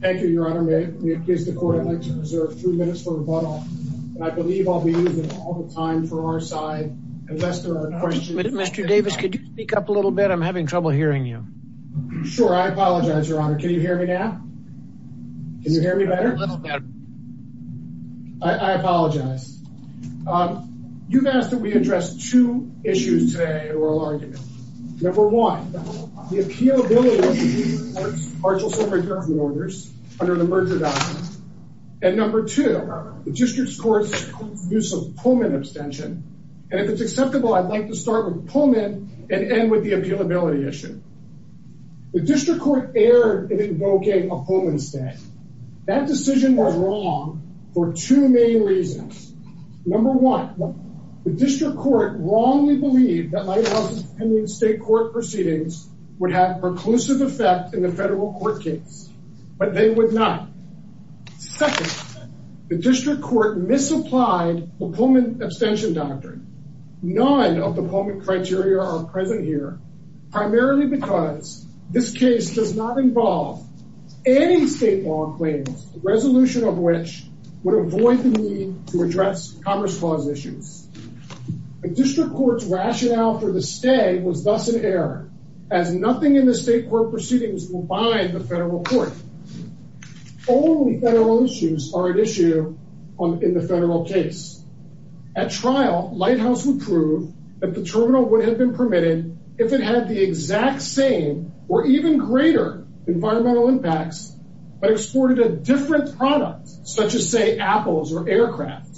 Thank you, Your Honor. May it please the court, I'd like to preserve a few minutes for rebuttal, and I believe I'll be using it all the time for our side, unless there are questions. Mr. Davis, could you speak up a little bit? I'm having trouble hearing you. Sure. I apologize, Your Honor. Can you hear me now? Can you hear me better? I apologize. You've asked that we address two issues today in oral argument. Number one, the District Court erred in invoking a Pullman stay. That decision was wrong for two main reasons. Number one, the District Court wrongly believed that lighthouse's pending state court proceedings would have a preclusive effect in the federal court case, but they would not. Second, the District Court misapplied the Pullman abstention doctrine. None of the Pullman criteria are present here, primarily because this case does not involve any state law claims, the resolution of which would avoid the need to address Commerce Clause issues. The District Court's rationale for the stay was thus an error, as nothing in the state court proceedings will bind the federal court. Only federal issues are at issue in the federal case. At trial, lighthouse would prove that the terminal would have been permitted if it had the exact same or even greater environmental impacts, but exported a different product, such as say apples or aircraft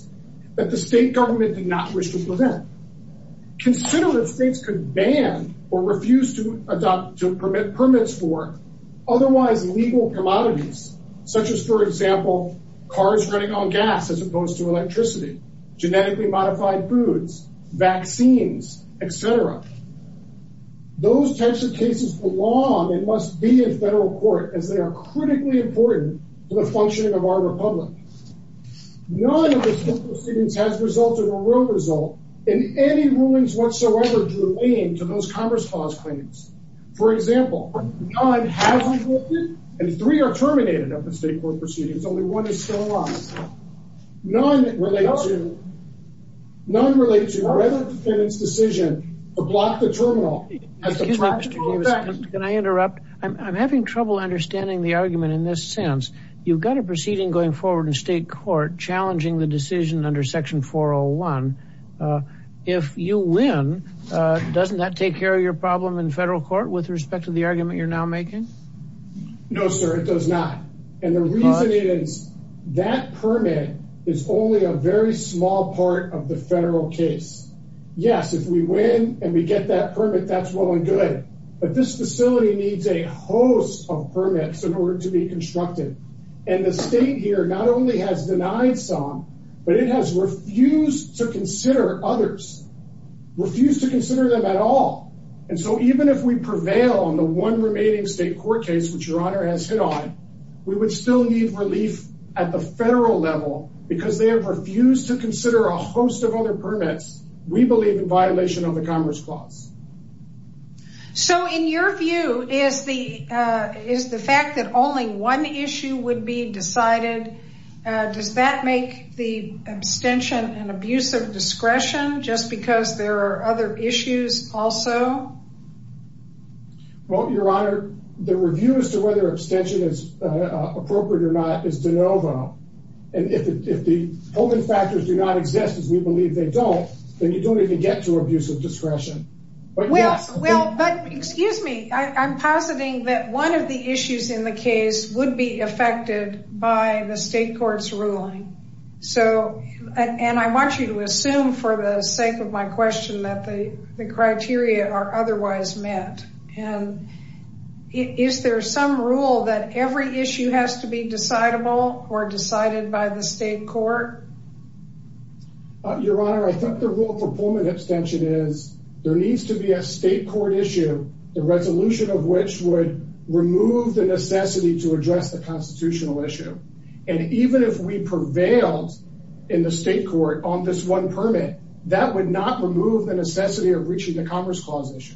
that the state government did not wish to prevent. Consider if states could ban or refuse to adopt to permit permits for otherwise legal commodities, such as for example, cars running on gas as opposed to electricity, genetically modified foods, vaccines, etc. Those types of cases belong and must be in federal court as they are critically important to the functioning of our Republic. None of the court proceedings has resulted in a real result in any ruins whatsoever to those Commerce Clause claims. For example, three are terminated up in state court proceedings, only one is still alive. None relates to whether the defendant's decision to block the terminal has a practical effect. Can I interrupt? I'm having trouble understanding the argument in this sense. You've got a proceeding going forward in state court challenging the decision under Section 401. If you win, doesn't that take care of your problem in federal court with respect to the argument you're now making? No, sir, it does not. And the reason is, that permit is only a very small part of the federal case. Yes, if we win and we get that permit, that's well and good. But this facility needs a host of permits in order to be constructed. And the state here not only has denied some, but it has refused to consider others, refused to consider them at all. And so even if we prevail on the one remaining state court case, which your honor has hit on, we would still need relief at the federal level, because they have refused to consider a host of other permits, we believe in violation of the Commerce Clause. So in your view, is the fact that only one issue would be decided? Does that make the abstention and abuse of discretion just because there are other issues also? Well, your honor, the review as to whether abstention is appropriate or not is de novo. And if the holding factors do not exist, as we believe they don't, then you don't even get to abuse of discretion. But well, but excuse me, I'm positing that one of the issues in the case would be affected by the state court's ruling. So, and I want you to assume for the sake of my question that the criteria are otherwise met. And is there some rule that every issue has to be decidable or decided by the state court? Your honor, I think the rule for Pullman abstention is there needs to be a state court issue, the resolution of which would remove the necessity to address the constitutional issue. And even if we prevailed in the state court on this one permit, that would not remove the necessity of reaching the Commerce Clause issue.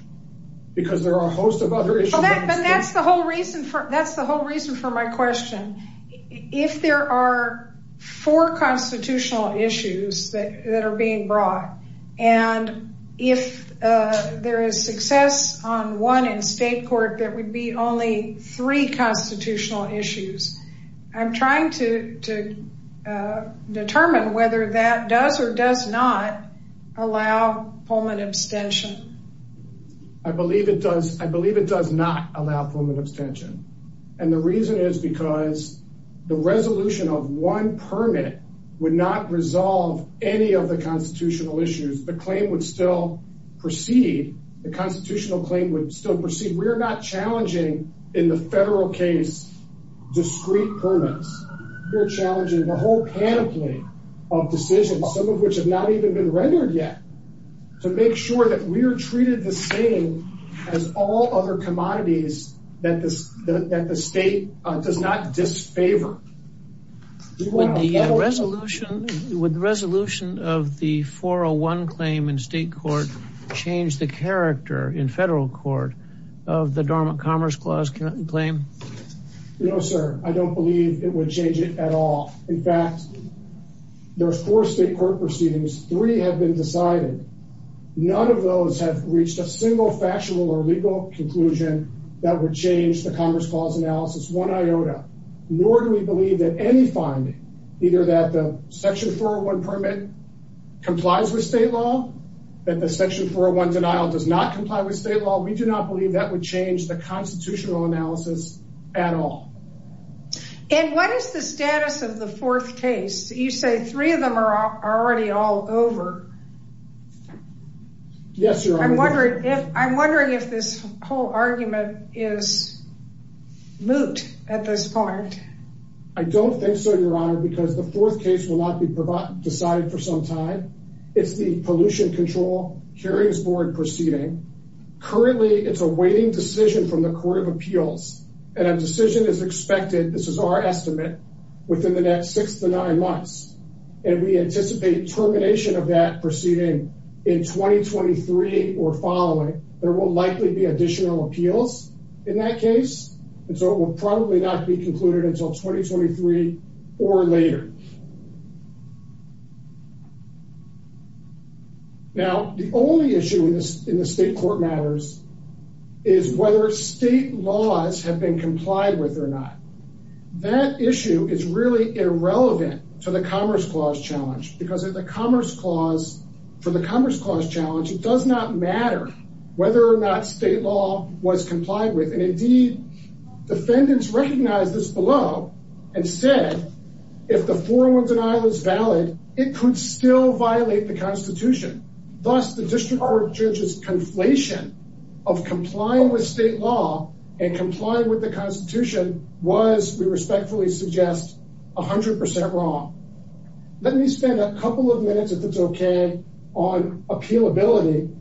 Because there are a host of other issues. But that's the whole reason for that's the whole reason for my question. If there are four constitutional issues that are being brought, and if there is success on one in state court that would be only three constitutional issues. I'm trying to determine whether that does or does not allow Pullman abstention. I believe it does. I believe it does not allow Pullman abstention. And the reason is because the resolution of one permit would not resolve any of the constitutional issues, the claim would still proceed, the constitutional claim would still proceed. So we're challenging in the federal case, discreet permits. We're challenging the whole panoply of decisions, some of which have not even been rendered yet, to make sure that we're treated the same as all other commodities that the state does not disfavor. With the resolution of the 401 claim in state court, change the character in federal court of the Dormant Commerce Clause claim? No, sir, I don't believe it would change it at all. In fact, there's four state court proceedings, three have been decided. None of those have reached a single factual or legal conclusion that would change the Commerce Clause analysis one iota. Nor do we believe that any finding, either that the Section 401 permit complies with state law, that Section 401 denial does not comply with state law. We do not believe that would change the constitutional analysis at all. And what is the status of the fourth case? You say three of them are already all over. Yes, Your Honor. I'm wondering if this whole argument is moot at this point. I don't think so, Your Honor, because the fourth case will not be decided for some time. It's the Pollution Control Hearings Board proceeding. Currently, it's a waiting decision from the Court of Appeals. And a decision is expected, this is our estimate, within the next six to nine months. And we anticipate termination of that proceeding in 2023 or following. There will likely be additional appeals in that case. And so it will not be decided for some time. Now, the only issue in the state court matters is whether state laws have been complied with or not. That issue is really irrelevant to the Commerce Clause challenge, because for the Commerce Clause challenge, it does not matter whether or not state law was complied with. And indeed, defendants recognize this below and said, if the 401 denial is valid, it could still violate the Constitution. Thus, the district court judge's conflation of complying with state law and complying with the Constitution was, we respectfully suggest, 100% wrong. Let me spend a couple of minutes, if it's okay, on appealability.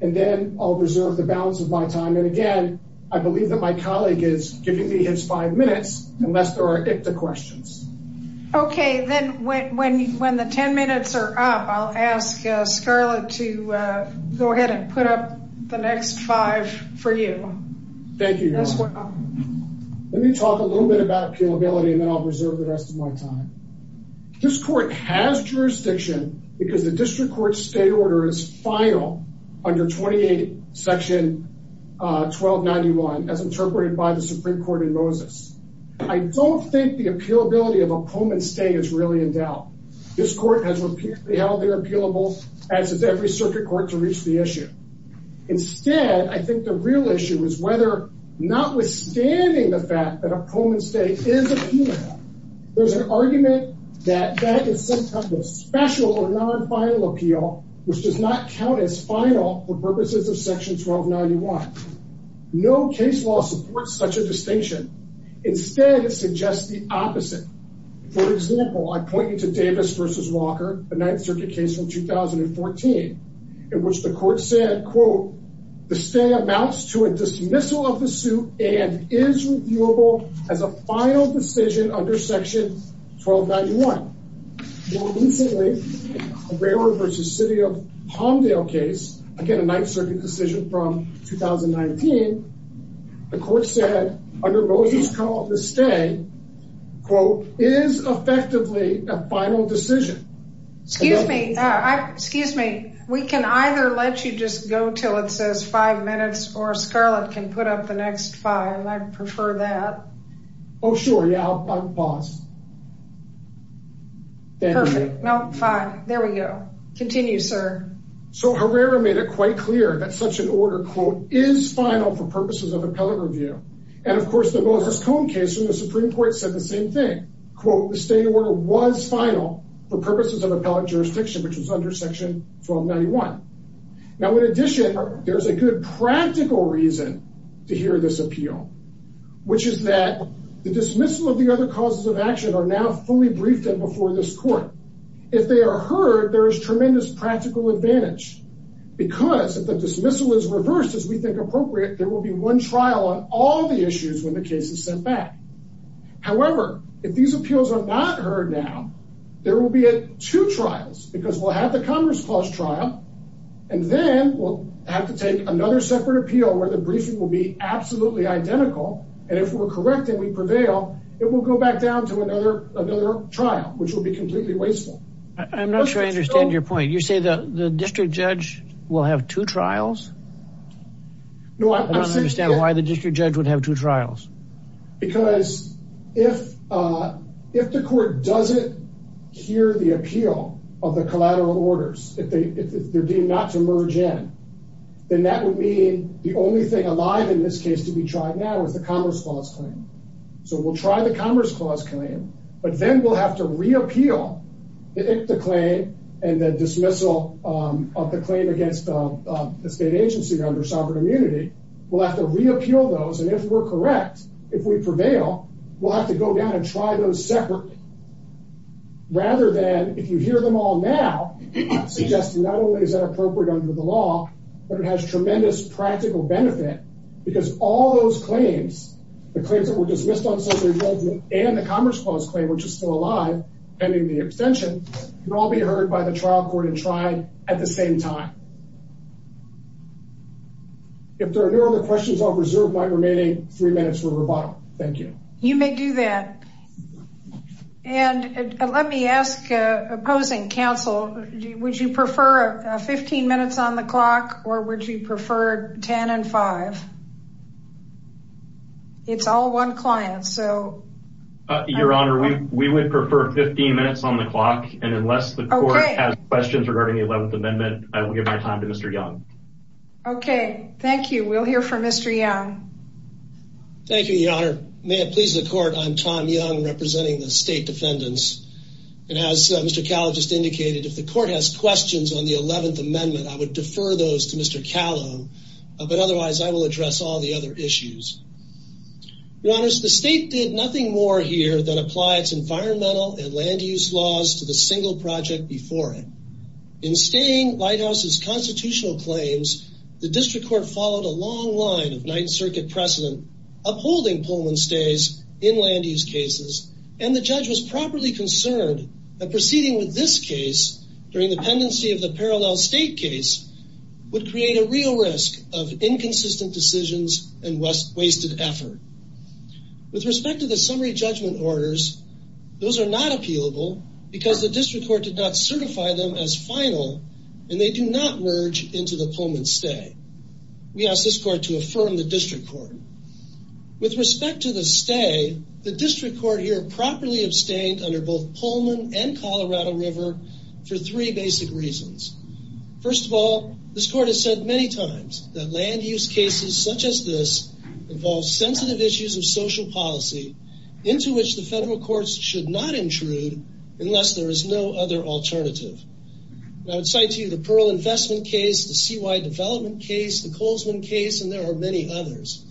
And then I'll reserve the balance of my time. And again, I believe that my colleague is giving me his five minutes, unless there are ICTA questions. Okay, then when the 10 minutes are up, I'll ask Scarlett to go ahead and put up the next five for you. Thank you. Let me talk a little bit about appealability, and then I'll reserve the rest of my time. This court has jurisdiction, because the district court's state order is final under 28, section 1291, as interpreted by the Supreme Court in Moses. I don't think the appealability of a poem and stay is really in doubt. This court has repeatedly held they're appealable, as is every circuit court to reach the issue. Instead, I think the real issue is whether not withstanding the fact that a poem and stay is appealable, there's an argument that that is sometimes a special or non final appeal, which does not count as final for purposes of distinction. Instead, it suggests the opposite. For example, I point you to Davis versus Walker, the Ninth Circuit case from 2014, in which the court said, quote, the stay amounts to a dismissal of the suit and is reviewable as a final decision under section 1291. More recently, a railroad versus city of Palmdale case, again, a Ninth Circuit decision from 2019. The court said, under Moses call to stay, quote, is effectively a final decision. Excuse me, excuse me, we can either let you just go till it says five minutes or Scarlett can put up the next file. I'd prefer that. Oh, sure. Yeah, I'll pause. So Herrera made it quite clear that such an order, quote, is final for purposes of appellate review. And of course, the Moses Cone case in the Supreme Court said the same thing, quote, the state order was final for purposes of appellate jurisdiction, which was under section 1291. Now, in addition, there's a good practical reason to hear this appeal, which is that the dismissal of the other causes of action are now fully briefed and before this court, if they are heard, there's tremendous practical advantage. Because if the dismissal is reversed, as we think appropriate, there will be one trial on all the issues when the case is sent back. However, if these appeals are not heard now, there will be two trials because we'll have the Congress clause trial. And then we'll have to take another separate appeal where the briefing will be absolutely identical. And if we're correct, and we prevail, it will go back down to another another trial, which will be completely wasteful. I'm not sure I understand your point. You say that the district judge will have two trials? No, I don't understand why the district judge would have two trials. Because if, if the court doesn't hear the appeal of the collateral orders, if they're deemed not to merge in, then that would mean the only thing alive in this case to be tried now is the Congress clause claim. So we'll try the claim and the dismissal of the claim against the state agency under sovereign immunity. We'll have to reappeal those. And if we're correct, if we prevail, we'll have to go down and try those separate rather than if you hear them all now, suggesting not only is that appropriate under the law, but it has tremendous practical benefit. Because all those claims, the claims that were dismissed on social involvement and the Congress clause claim, which is still alive, pending the hearing, can all be heard by the trial court and tried at the same time. If there are no other questions, I'll reserve my remaining three minutes for rebuttal. Thank you. You may do that. And let me ask opposing counsel, would you prefer 15 minutes on the clock? Or would you prefer 10 and five? It's all one client. So Your Honor, we would prefer 15 minutes on the clock. And unless the court has questions regarding the 11th Amendment, I will give my time to Mr. Young. Okay, thank you. We'll hear from Mr. Young. Thank you, Your Honor. May it please the court. I'm Tom Young representing the state defendants. And as Mr. Callow just indicated, if the court has questions on the 11th Amendment, I would defer those to Mr. Callow. But otherwise, I will address all the other issues. Your Honor, the state did nothing more here than apply its environmental and land use laws to the single project before it. In staying Lighthouse's constitutional claims, the district court followed a long line of Ninth Circuit precedent, upholding Pullman stays in land use cases. And the judge was properly concerned that proceeding with this case during the pendency of the parallel state case would create a real risk of inconsistent decisions and wasted effort. With respect to the summary judgment orders, those are not appealable, because the district court did not certify them as final, and they do not merge into the Pullman stay. We asked this court to affirm the district court. With respect to the stay, the district court here properly abstained under both Pullman and Colorado River for three basic reasons. First of all, this court has said many times that land use cases such as this involves sensitive issues of social policy into which the federal courts should not intrude unless there is no other alternative. I would cite to you the Pearl investment case, the CY development case, the Colesman case, and there are many others.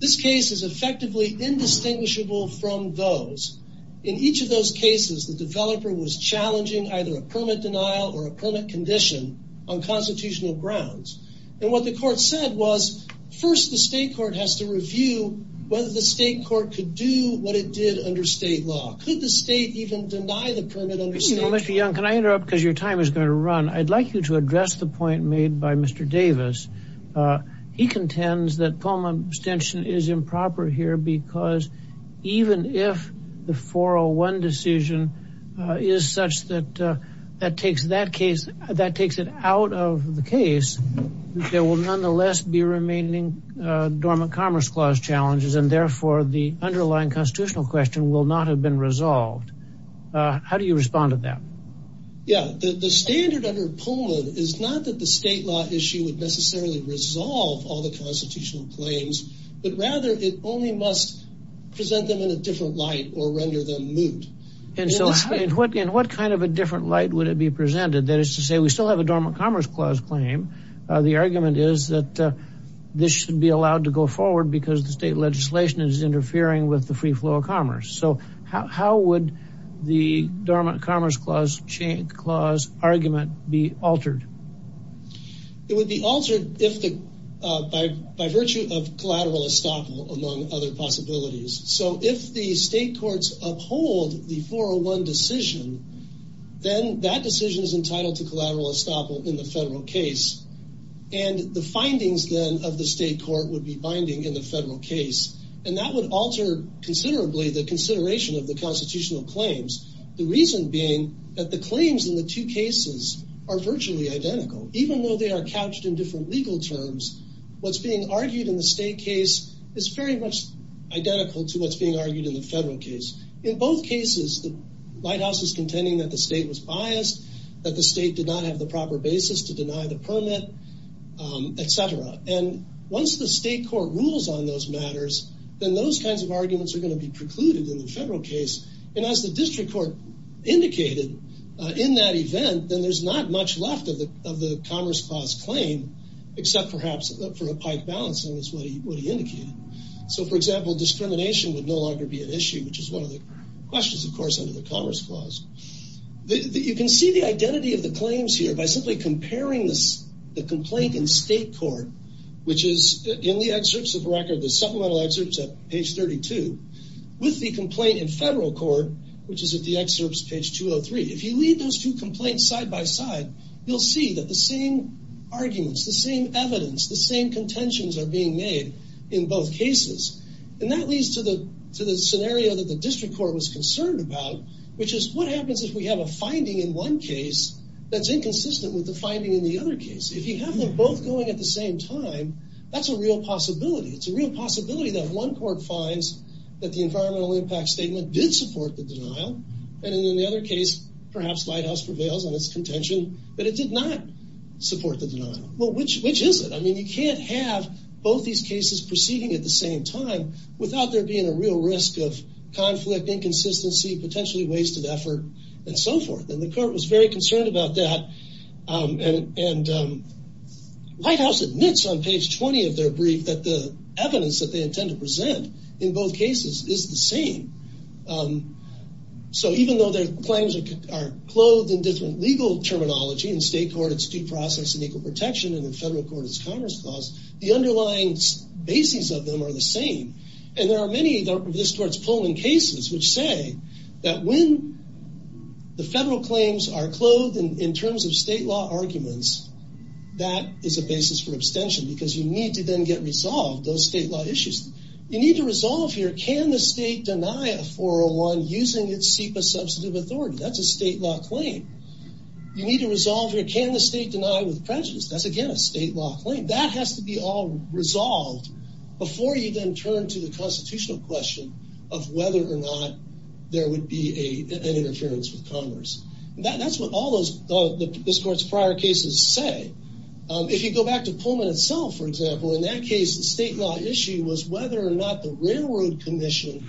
This case is effectively indistinguishable from those. In each of those cases, the developer was challenging either a permit denial or a permit condition on constitutional grounds. And what the court said was, first, the state court has to review whether the state court could do what it did under state law. Could the state even deny the permit under state law? Mr. Young, can I interrupt because your time is going to run. I'd like you to address the point made by Mr. Davis. He contends that Pullman abstention is improper here because even if the 401 decision is such that that takes that case, that takes it out of the case, there will nonetheless be remaining dormant commerce clause challenges and therefore the underlying constitutional question will not have been resolved. How do you respond to that? Yeah, the standard under Pullman is not that the state law issue would necessarily resolve all the constitutional claims, but rather it only must present them in a different light or render them moot. And so in what kind of a different light would it be presented? That is to say, we still have a dormant commerce clause claim. The argument is that this should be allowed to go forward because the state legislation is interfering with the free flow of commerce. So how would the dormant commerce clause change clause argument be altered? It would be altered if the by by virtue of collateral estoppel among other possibilities. So if the state courts uphold the 401 decision, then that decision is entitled to collateral estoppel in the federal case. And the findings then of the state court would be binding in the federal case. And that would alter considerably the consideration of the constitutional claims. The reason being that the claims in the two cases are virtually identical, even though they are couched in different legal terms. What's being argued in the state case is very much identical to what's being argued in the federal case. In both cases, the White House is contending that the state was biased, that the state did not have the proper basis to deny the permit, etc. And once the state court rules on those matters, then those kinds of arguments are going to be precluded in the federal case. And as the district court indicated, in that event, then there's not much left of the of the commerce clause claim, except perhaps for a pike balancing is what he indicated. So for example, discrimination would no longer be an issue, which is one of the questions, of course, under the commerce clause. You can see the identity of the complaint in state court, which is in the excerpts of record, the supplemental excerpts at page 32, with the complaint in federal court, which is at the excerpts page 203. If you read those two complaints side by side, you'll see that the same arguments, the same evidence, the same contentions are being made in both cases. And that leads to the to the scenario that the district court was concerned about, which is what happens if we have a finding in one case, that's inconsistent with the finding in the other case. If you have them both going at the same time, that's a real possibility. It's a real possibility that one court finds that the environmental impact statement did support the denial. And in the other case, perhaps Lighthouse prevails on its contention, but it did not support the denial. Well, which which is it? I mean, you can't have both these cases proceeding at the same time, without there being a real risk of conflict, inconsistency, potentially wasted effort, and so forth. And the court was very concerned about that. And Lighthouse admits on page 20 of their brief that the evidence that they intend to present in both cases is the same. So even though their claims are clothed in different legal terminology, in state court, it's due process and equal protection, and in federal court, it's commerce clause, the underlying bases of them are the same. And there are many of this court's Pullman cases, which say that when the in terms of state law arguments, that is a basis for abstention, because you need to then get resolved those state law issues. You need to resolve here, can the state deny a 401 using its SEPA substantive authority? That's a state law claim. You need to resolve here, can the state deny with prejudice? That's again, a state law claim that has to be all resolved, before you then turn to the constitutional question of whether or not there would be a interference with commerce. That's what all those this court's prior cases say. If you go back to Pullman itself, for example, in that case, the state law issue was whether or not the railroad commission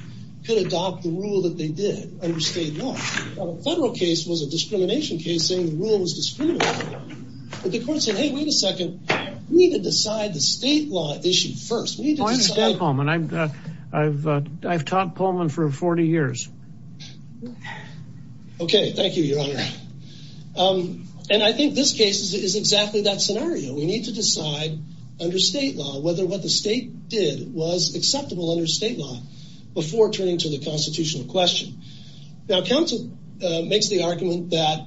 could adopt the rule that they did under state law. The federal case was a discrimination case saying the rule was discriminatory. But the court said, Hey, wait a second, we need to decide the state law issue first. I understand Pullman. I've taught Pullman for 40 years. Okay, thank you, Your Honor. And I think this case is exactly that scenario. We need to decide under state law, whether what the state did was acceptable under state law, before turning to the constitutional question. Now, counsel makes the argument that,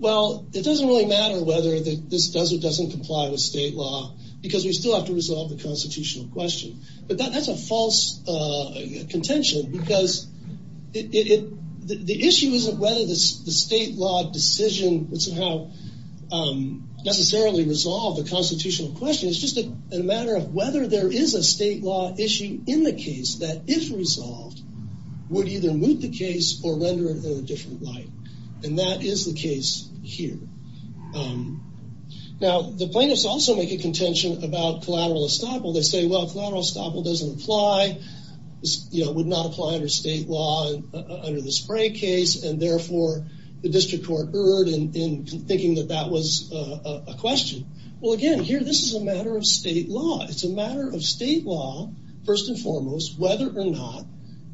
well, it doesn't really matter whether this does or doesn't comply with state law, because we still have to resolve the constitutional question. But that's a false contention, because the issue isn't whether the state law decision would somehow necessarily resolve the constitutional question. It's just a matter of whether there is a state law issue in the case that, if resolved, would either move the case or render it in a different light. And that is the case here. Now, the plaintiffs also make a contention about collateral estoppel. They say, well, if collateral estoppel doesn't apply, it would not apply under state law, under the spray case. And therefore, the district court erred in thinking that that was a question. Well, again, here, this is a matter of state law. It's a matter of state law, first and foremost, whether or not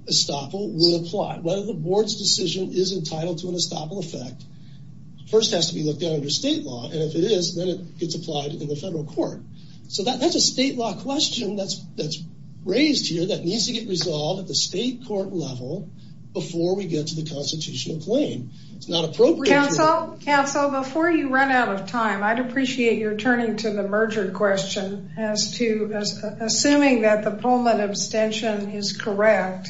estoppel would apply. Whether the board's decision is entitled to an estoppel effect first has to be looked at under state law. And if it is, then it gets applied in the federal court. So that's a state law question that's raised here that needs to get resolved at the state court level before we get to the constitutional claim. It's not appropriate. Counsel, before you run out of time, I'd appreciate your turning to the merger question as to assuming that the Pullman abstention is correct,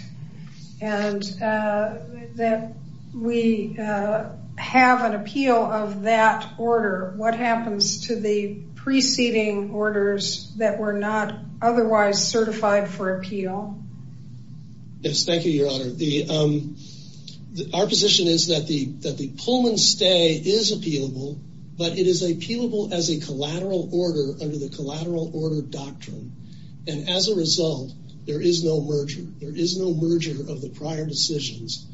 and that we have an appeal of that order. What happens to the preceding orders that were not otherwise certified for appeal? Yes, thank you, Your Honor. Our position is that the Pullman stay is appealable, but it is appealable as a collateral order under the collateral order doctrine. And as a result, there is no merger. There is no merger of the prior decisions.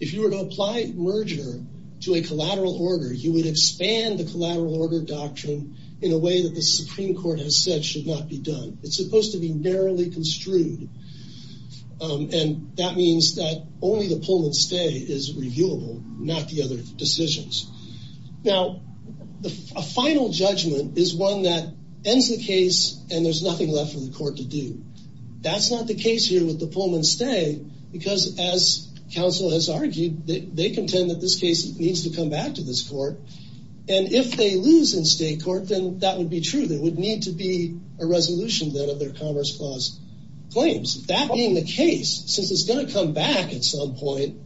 If you were to apply merger to a collateral order, you would expand the collateral order doctrine in a way that the Supreme Court has said should not be done. It's supposed to be narrowly construed. And that means that only the Pullman stay is reviewable, not the other decisions. Now, a final judgment is one that ends the case, and there's nothing left for the court to do. That's not the case here with the Pullman stay, because as counsel has argued, they contend that this case needs to come back to this court. And if they lose in state court, then that would be true. There would need to be a resolution then of their Commerce Clause claims. That being the case, since it's going to come back at some point,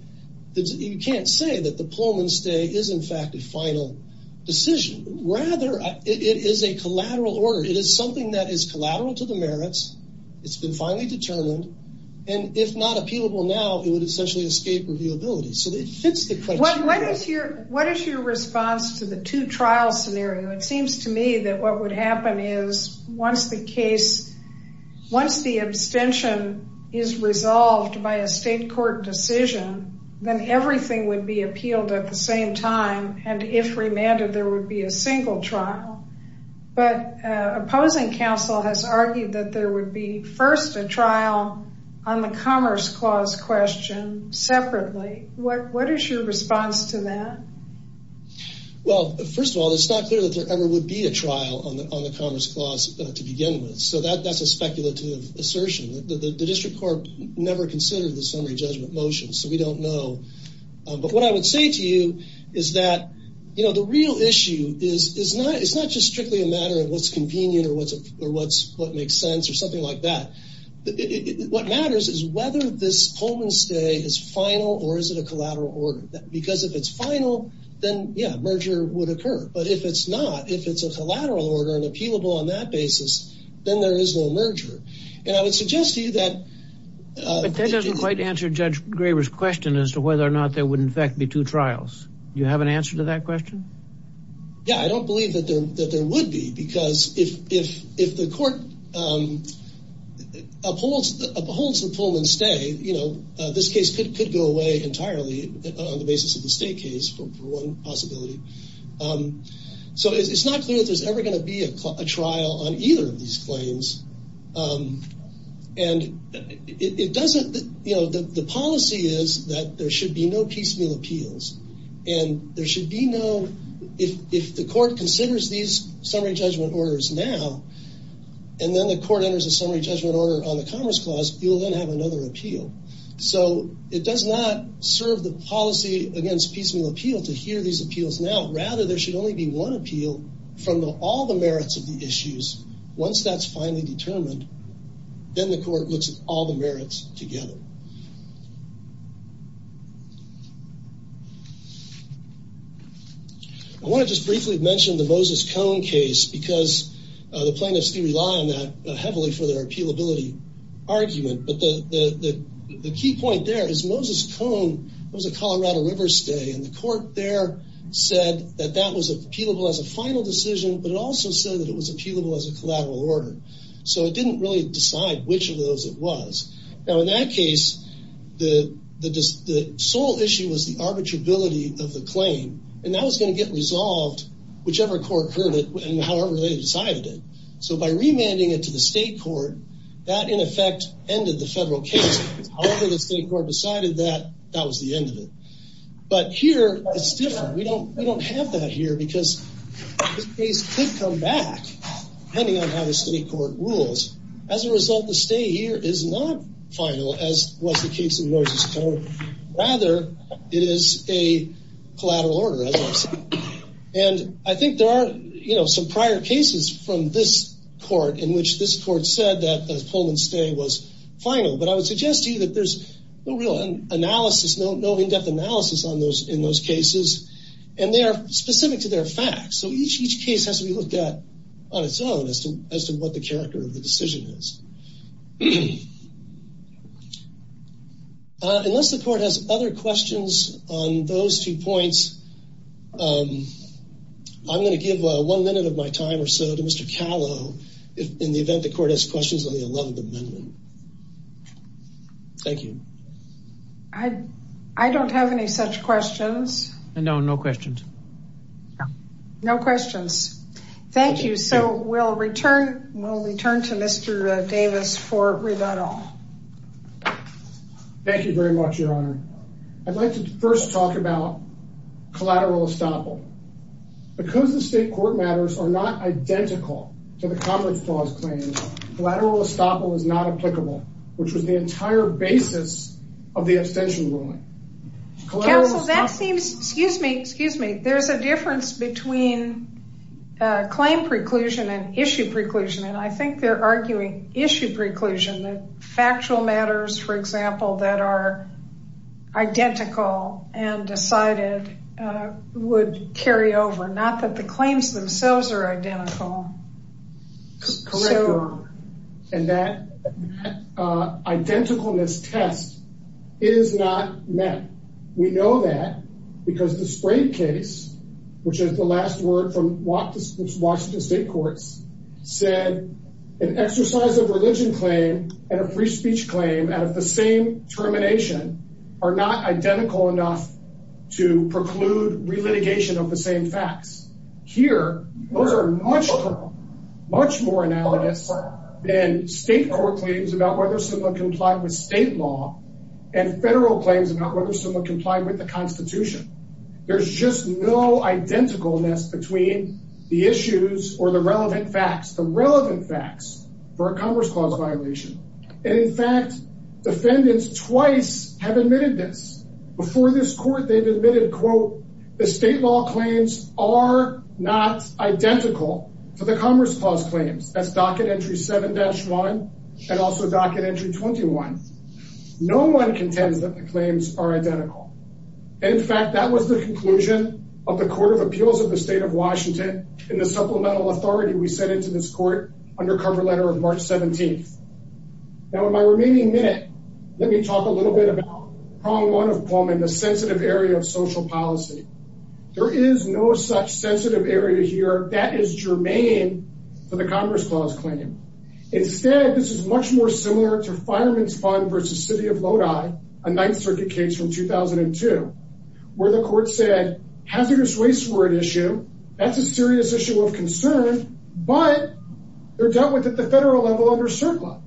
you can't say that the Pullman stay is in fact a final decision. Rather, it is a collateral order. It is something that is collateral to the merits. It's been finally determined. And if not appealable now, it would essentially escape reviewability. What is your response to the two trial scenario? It seems to me that what would happen is once the case, once the abstention is resolved by a state court decision, then everything would be appealed at the same time. And if remanded, there would be a single trial. But opposing counsel has argued that there would be first a trial on the Commerce Clause question separately. What is your response to that? Well, first of all, it's not clear that there ever would be a trial on the Commerce Clause to begin with. So that's a speculative assertion. The District Court never considered the summary judgment motion. So we don't know. But what I would say to you is that, you know, the real issue is not just strictly a matter of what's convenient or what makes sense or something like that. What matters is whether this Pullman stay is final or is it a collateral order? Because if it's final, then, yeah, merger would occur. But if it's not, if it's a collateral order and appealable on that basis, then there is no merger. And I would suggest to you that... But that doesn't quite answer Judge Graber's question as to whether or not there would in fact be two trials. Do you have an answer to that question? Yeah, I don't believe that there would be because if the court upholds the Pullman stay, you know, this case could go away entirely on the basis of the state case for one possibility. So it's not clear if there's ever going to be a trial on either of these claims. And it doesn't, you know, the policy is that there should be no piecemeal appeals. And there should be no, if the court considers these summary judgment orders now, and then the court enters a summary judgment order on the Commerce Clause, you'll then have another appeal. So it does not serve the policy against piecemeal appeal to hear these appeals now. Rather, there should only be one appeal from the all the merits of the issues. Once that's finally determined, then the court looks at all the merits together. I want to just briefly mention the Moses Cone case because the plaintiffs do rely on that heavily for their appealability argument. But the key point there is Moses Cone was a Colorado River stay and the court there said that that was appealable as a final decision, but it also said that it was appealable as a collateral order. So it didn't really plaintiffs were able to appeal. And they were able to appeal the sole issue was the arbitrability of the claim. And that was going to get resolved, whichever court heard it, and however they decided it. So by remanding it to the state court, that in effect ended the federal case. However, the state court decided that that was the end of it. But here, it's different. We don't we don't have that here because this case could come back, depending on how the state court rules. As a result, the final as was the case of Moses Cone. Rather, it is a collateral order. And I think there are, you know, some prior cases from this court in which this court said that the Pullman stay was final, but I would suggest to you that there's no real analysis, no, no in depth analysis on those in those cases. And they are specific to their facts. So each each case has to be looked at on its own as to as to what the character of the decision is. Unless the court has other questions on those two points, I'm going to give one minute of my time or so to Mr. Callow, in the event the court has questions on the 11th amendment. Thank you. I, I don't have any such questions. No, no questions. No questions. Thank you. So we'll return, we'll return to Mr. Davis for rebuttal. Thank you very much, Your Honor. I'd like to first talk about collateral estoppel. Because the state court matters are not identical to the conference clause claims, collateral estoppel is not applicable, which was the entire basis of the abstention ruling. Counsel, that seems, excuse me, excuse me, there's a difference between claim preclusion and issue preclusion. And I think they're arguing issue preclusion, the factual matters, for example, that are identical and decided, would carry over not that the claims themselves are identical. Correct, Your Honor. And that identicalness test is not met. We know that, because the Sprave case, which is the last word from Washington state courts, said an exercise of religion claim and a free speech claim out of the same termination are not identical enough to preclude relitigation of the same facts. Here, those are much, much more analogous than state court claims about whether someone complied with state law and federal claims about whether someone complied with the Constitution. There's just no identicalness between the issues or the relevant facts, the relevant facts for a conference clause violation. And in fact, defendants twice have admitted this. Before this court they've admitted, quote, the state law claims are not identical to the commerce clause claims. That's docket entry 7-1 and also docket entry 21. No one contends that the claims are identical. And in fact, that was the conclusion of the Court of Appeals of the state of Washington in the supplemental authority we sent into this court under cover letter of March 17th. Now in my remaining minute, let me talk a little bit about prong one of Pullman, the sensitive area of is germane to the Congress clause claim. Instead, this is much more similar to Fireman's Fund versus City of Lodi, a Ninth Circuit case from 2002, where the court said hazardous waste were an issue. That's a serious issue of concern, but they're dealt with at the federal level under CERCLA.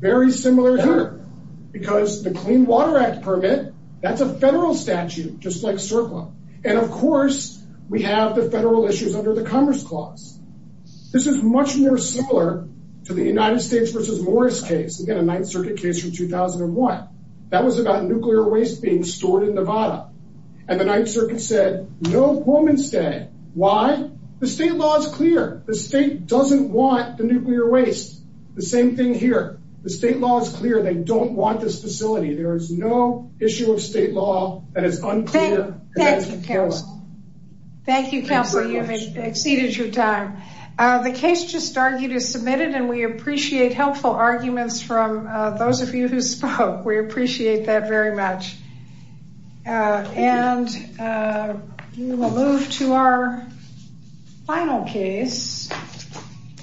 Very similar here, because the Clean Water Act permit, that's a federal statute, just like CERCLA. And of course, we have the federal issues under the Commerce Clause. This is much more similar to the United States versus Morris case, again, a Ninth Circuit case from 2001. That was about nuclear waste being stored in Nevada. And the Ninth Circuit said no Pullman stay. Why? The state law is clear. The state doesn't want the nuclear waste. The same thing here. The state law is clear. They don't want this facility. There is no issue of exceeding your time. The case just argued is submitted and we appreciate helpful arguments from those of you who spoke. We appreciate that very much. And we will move to our final case.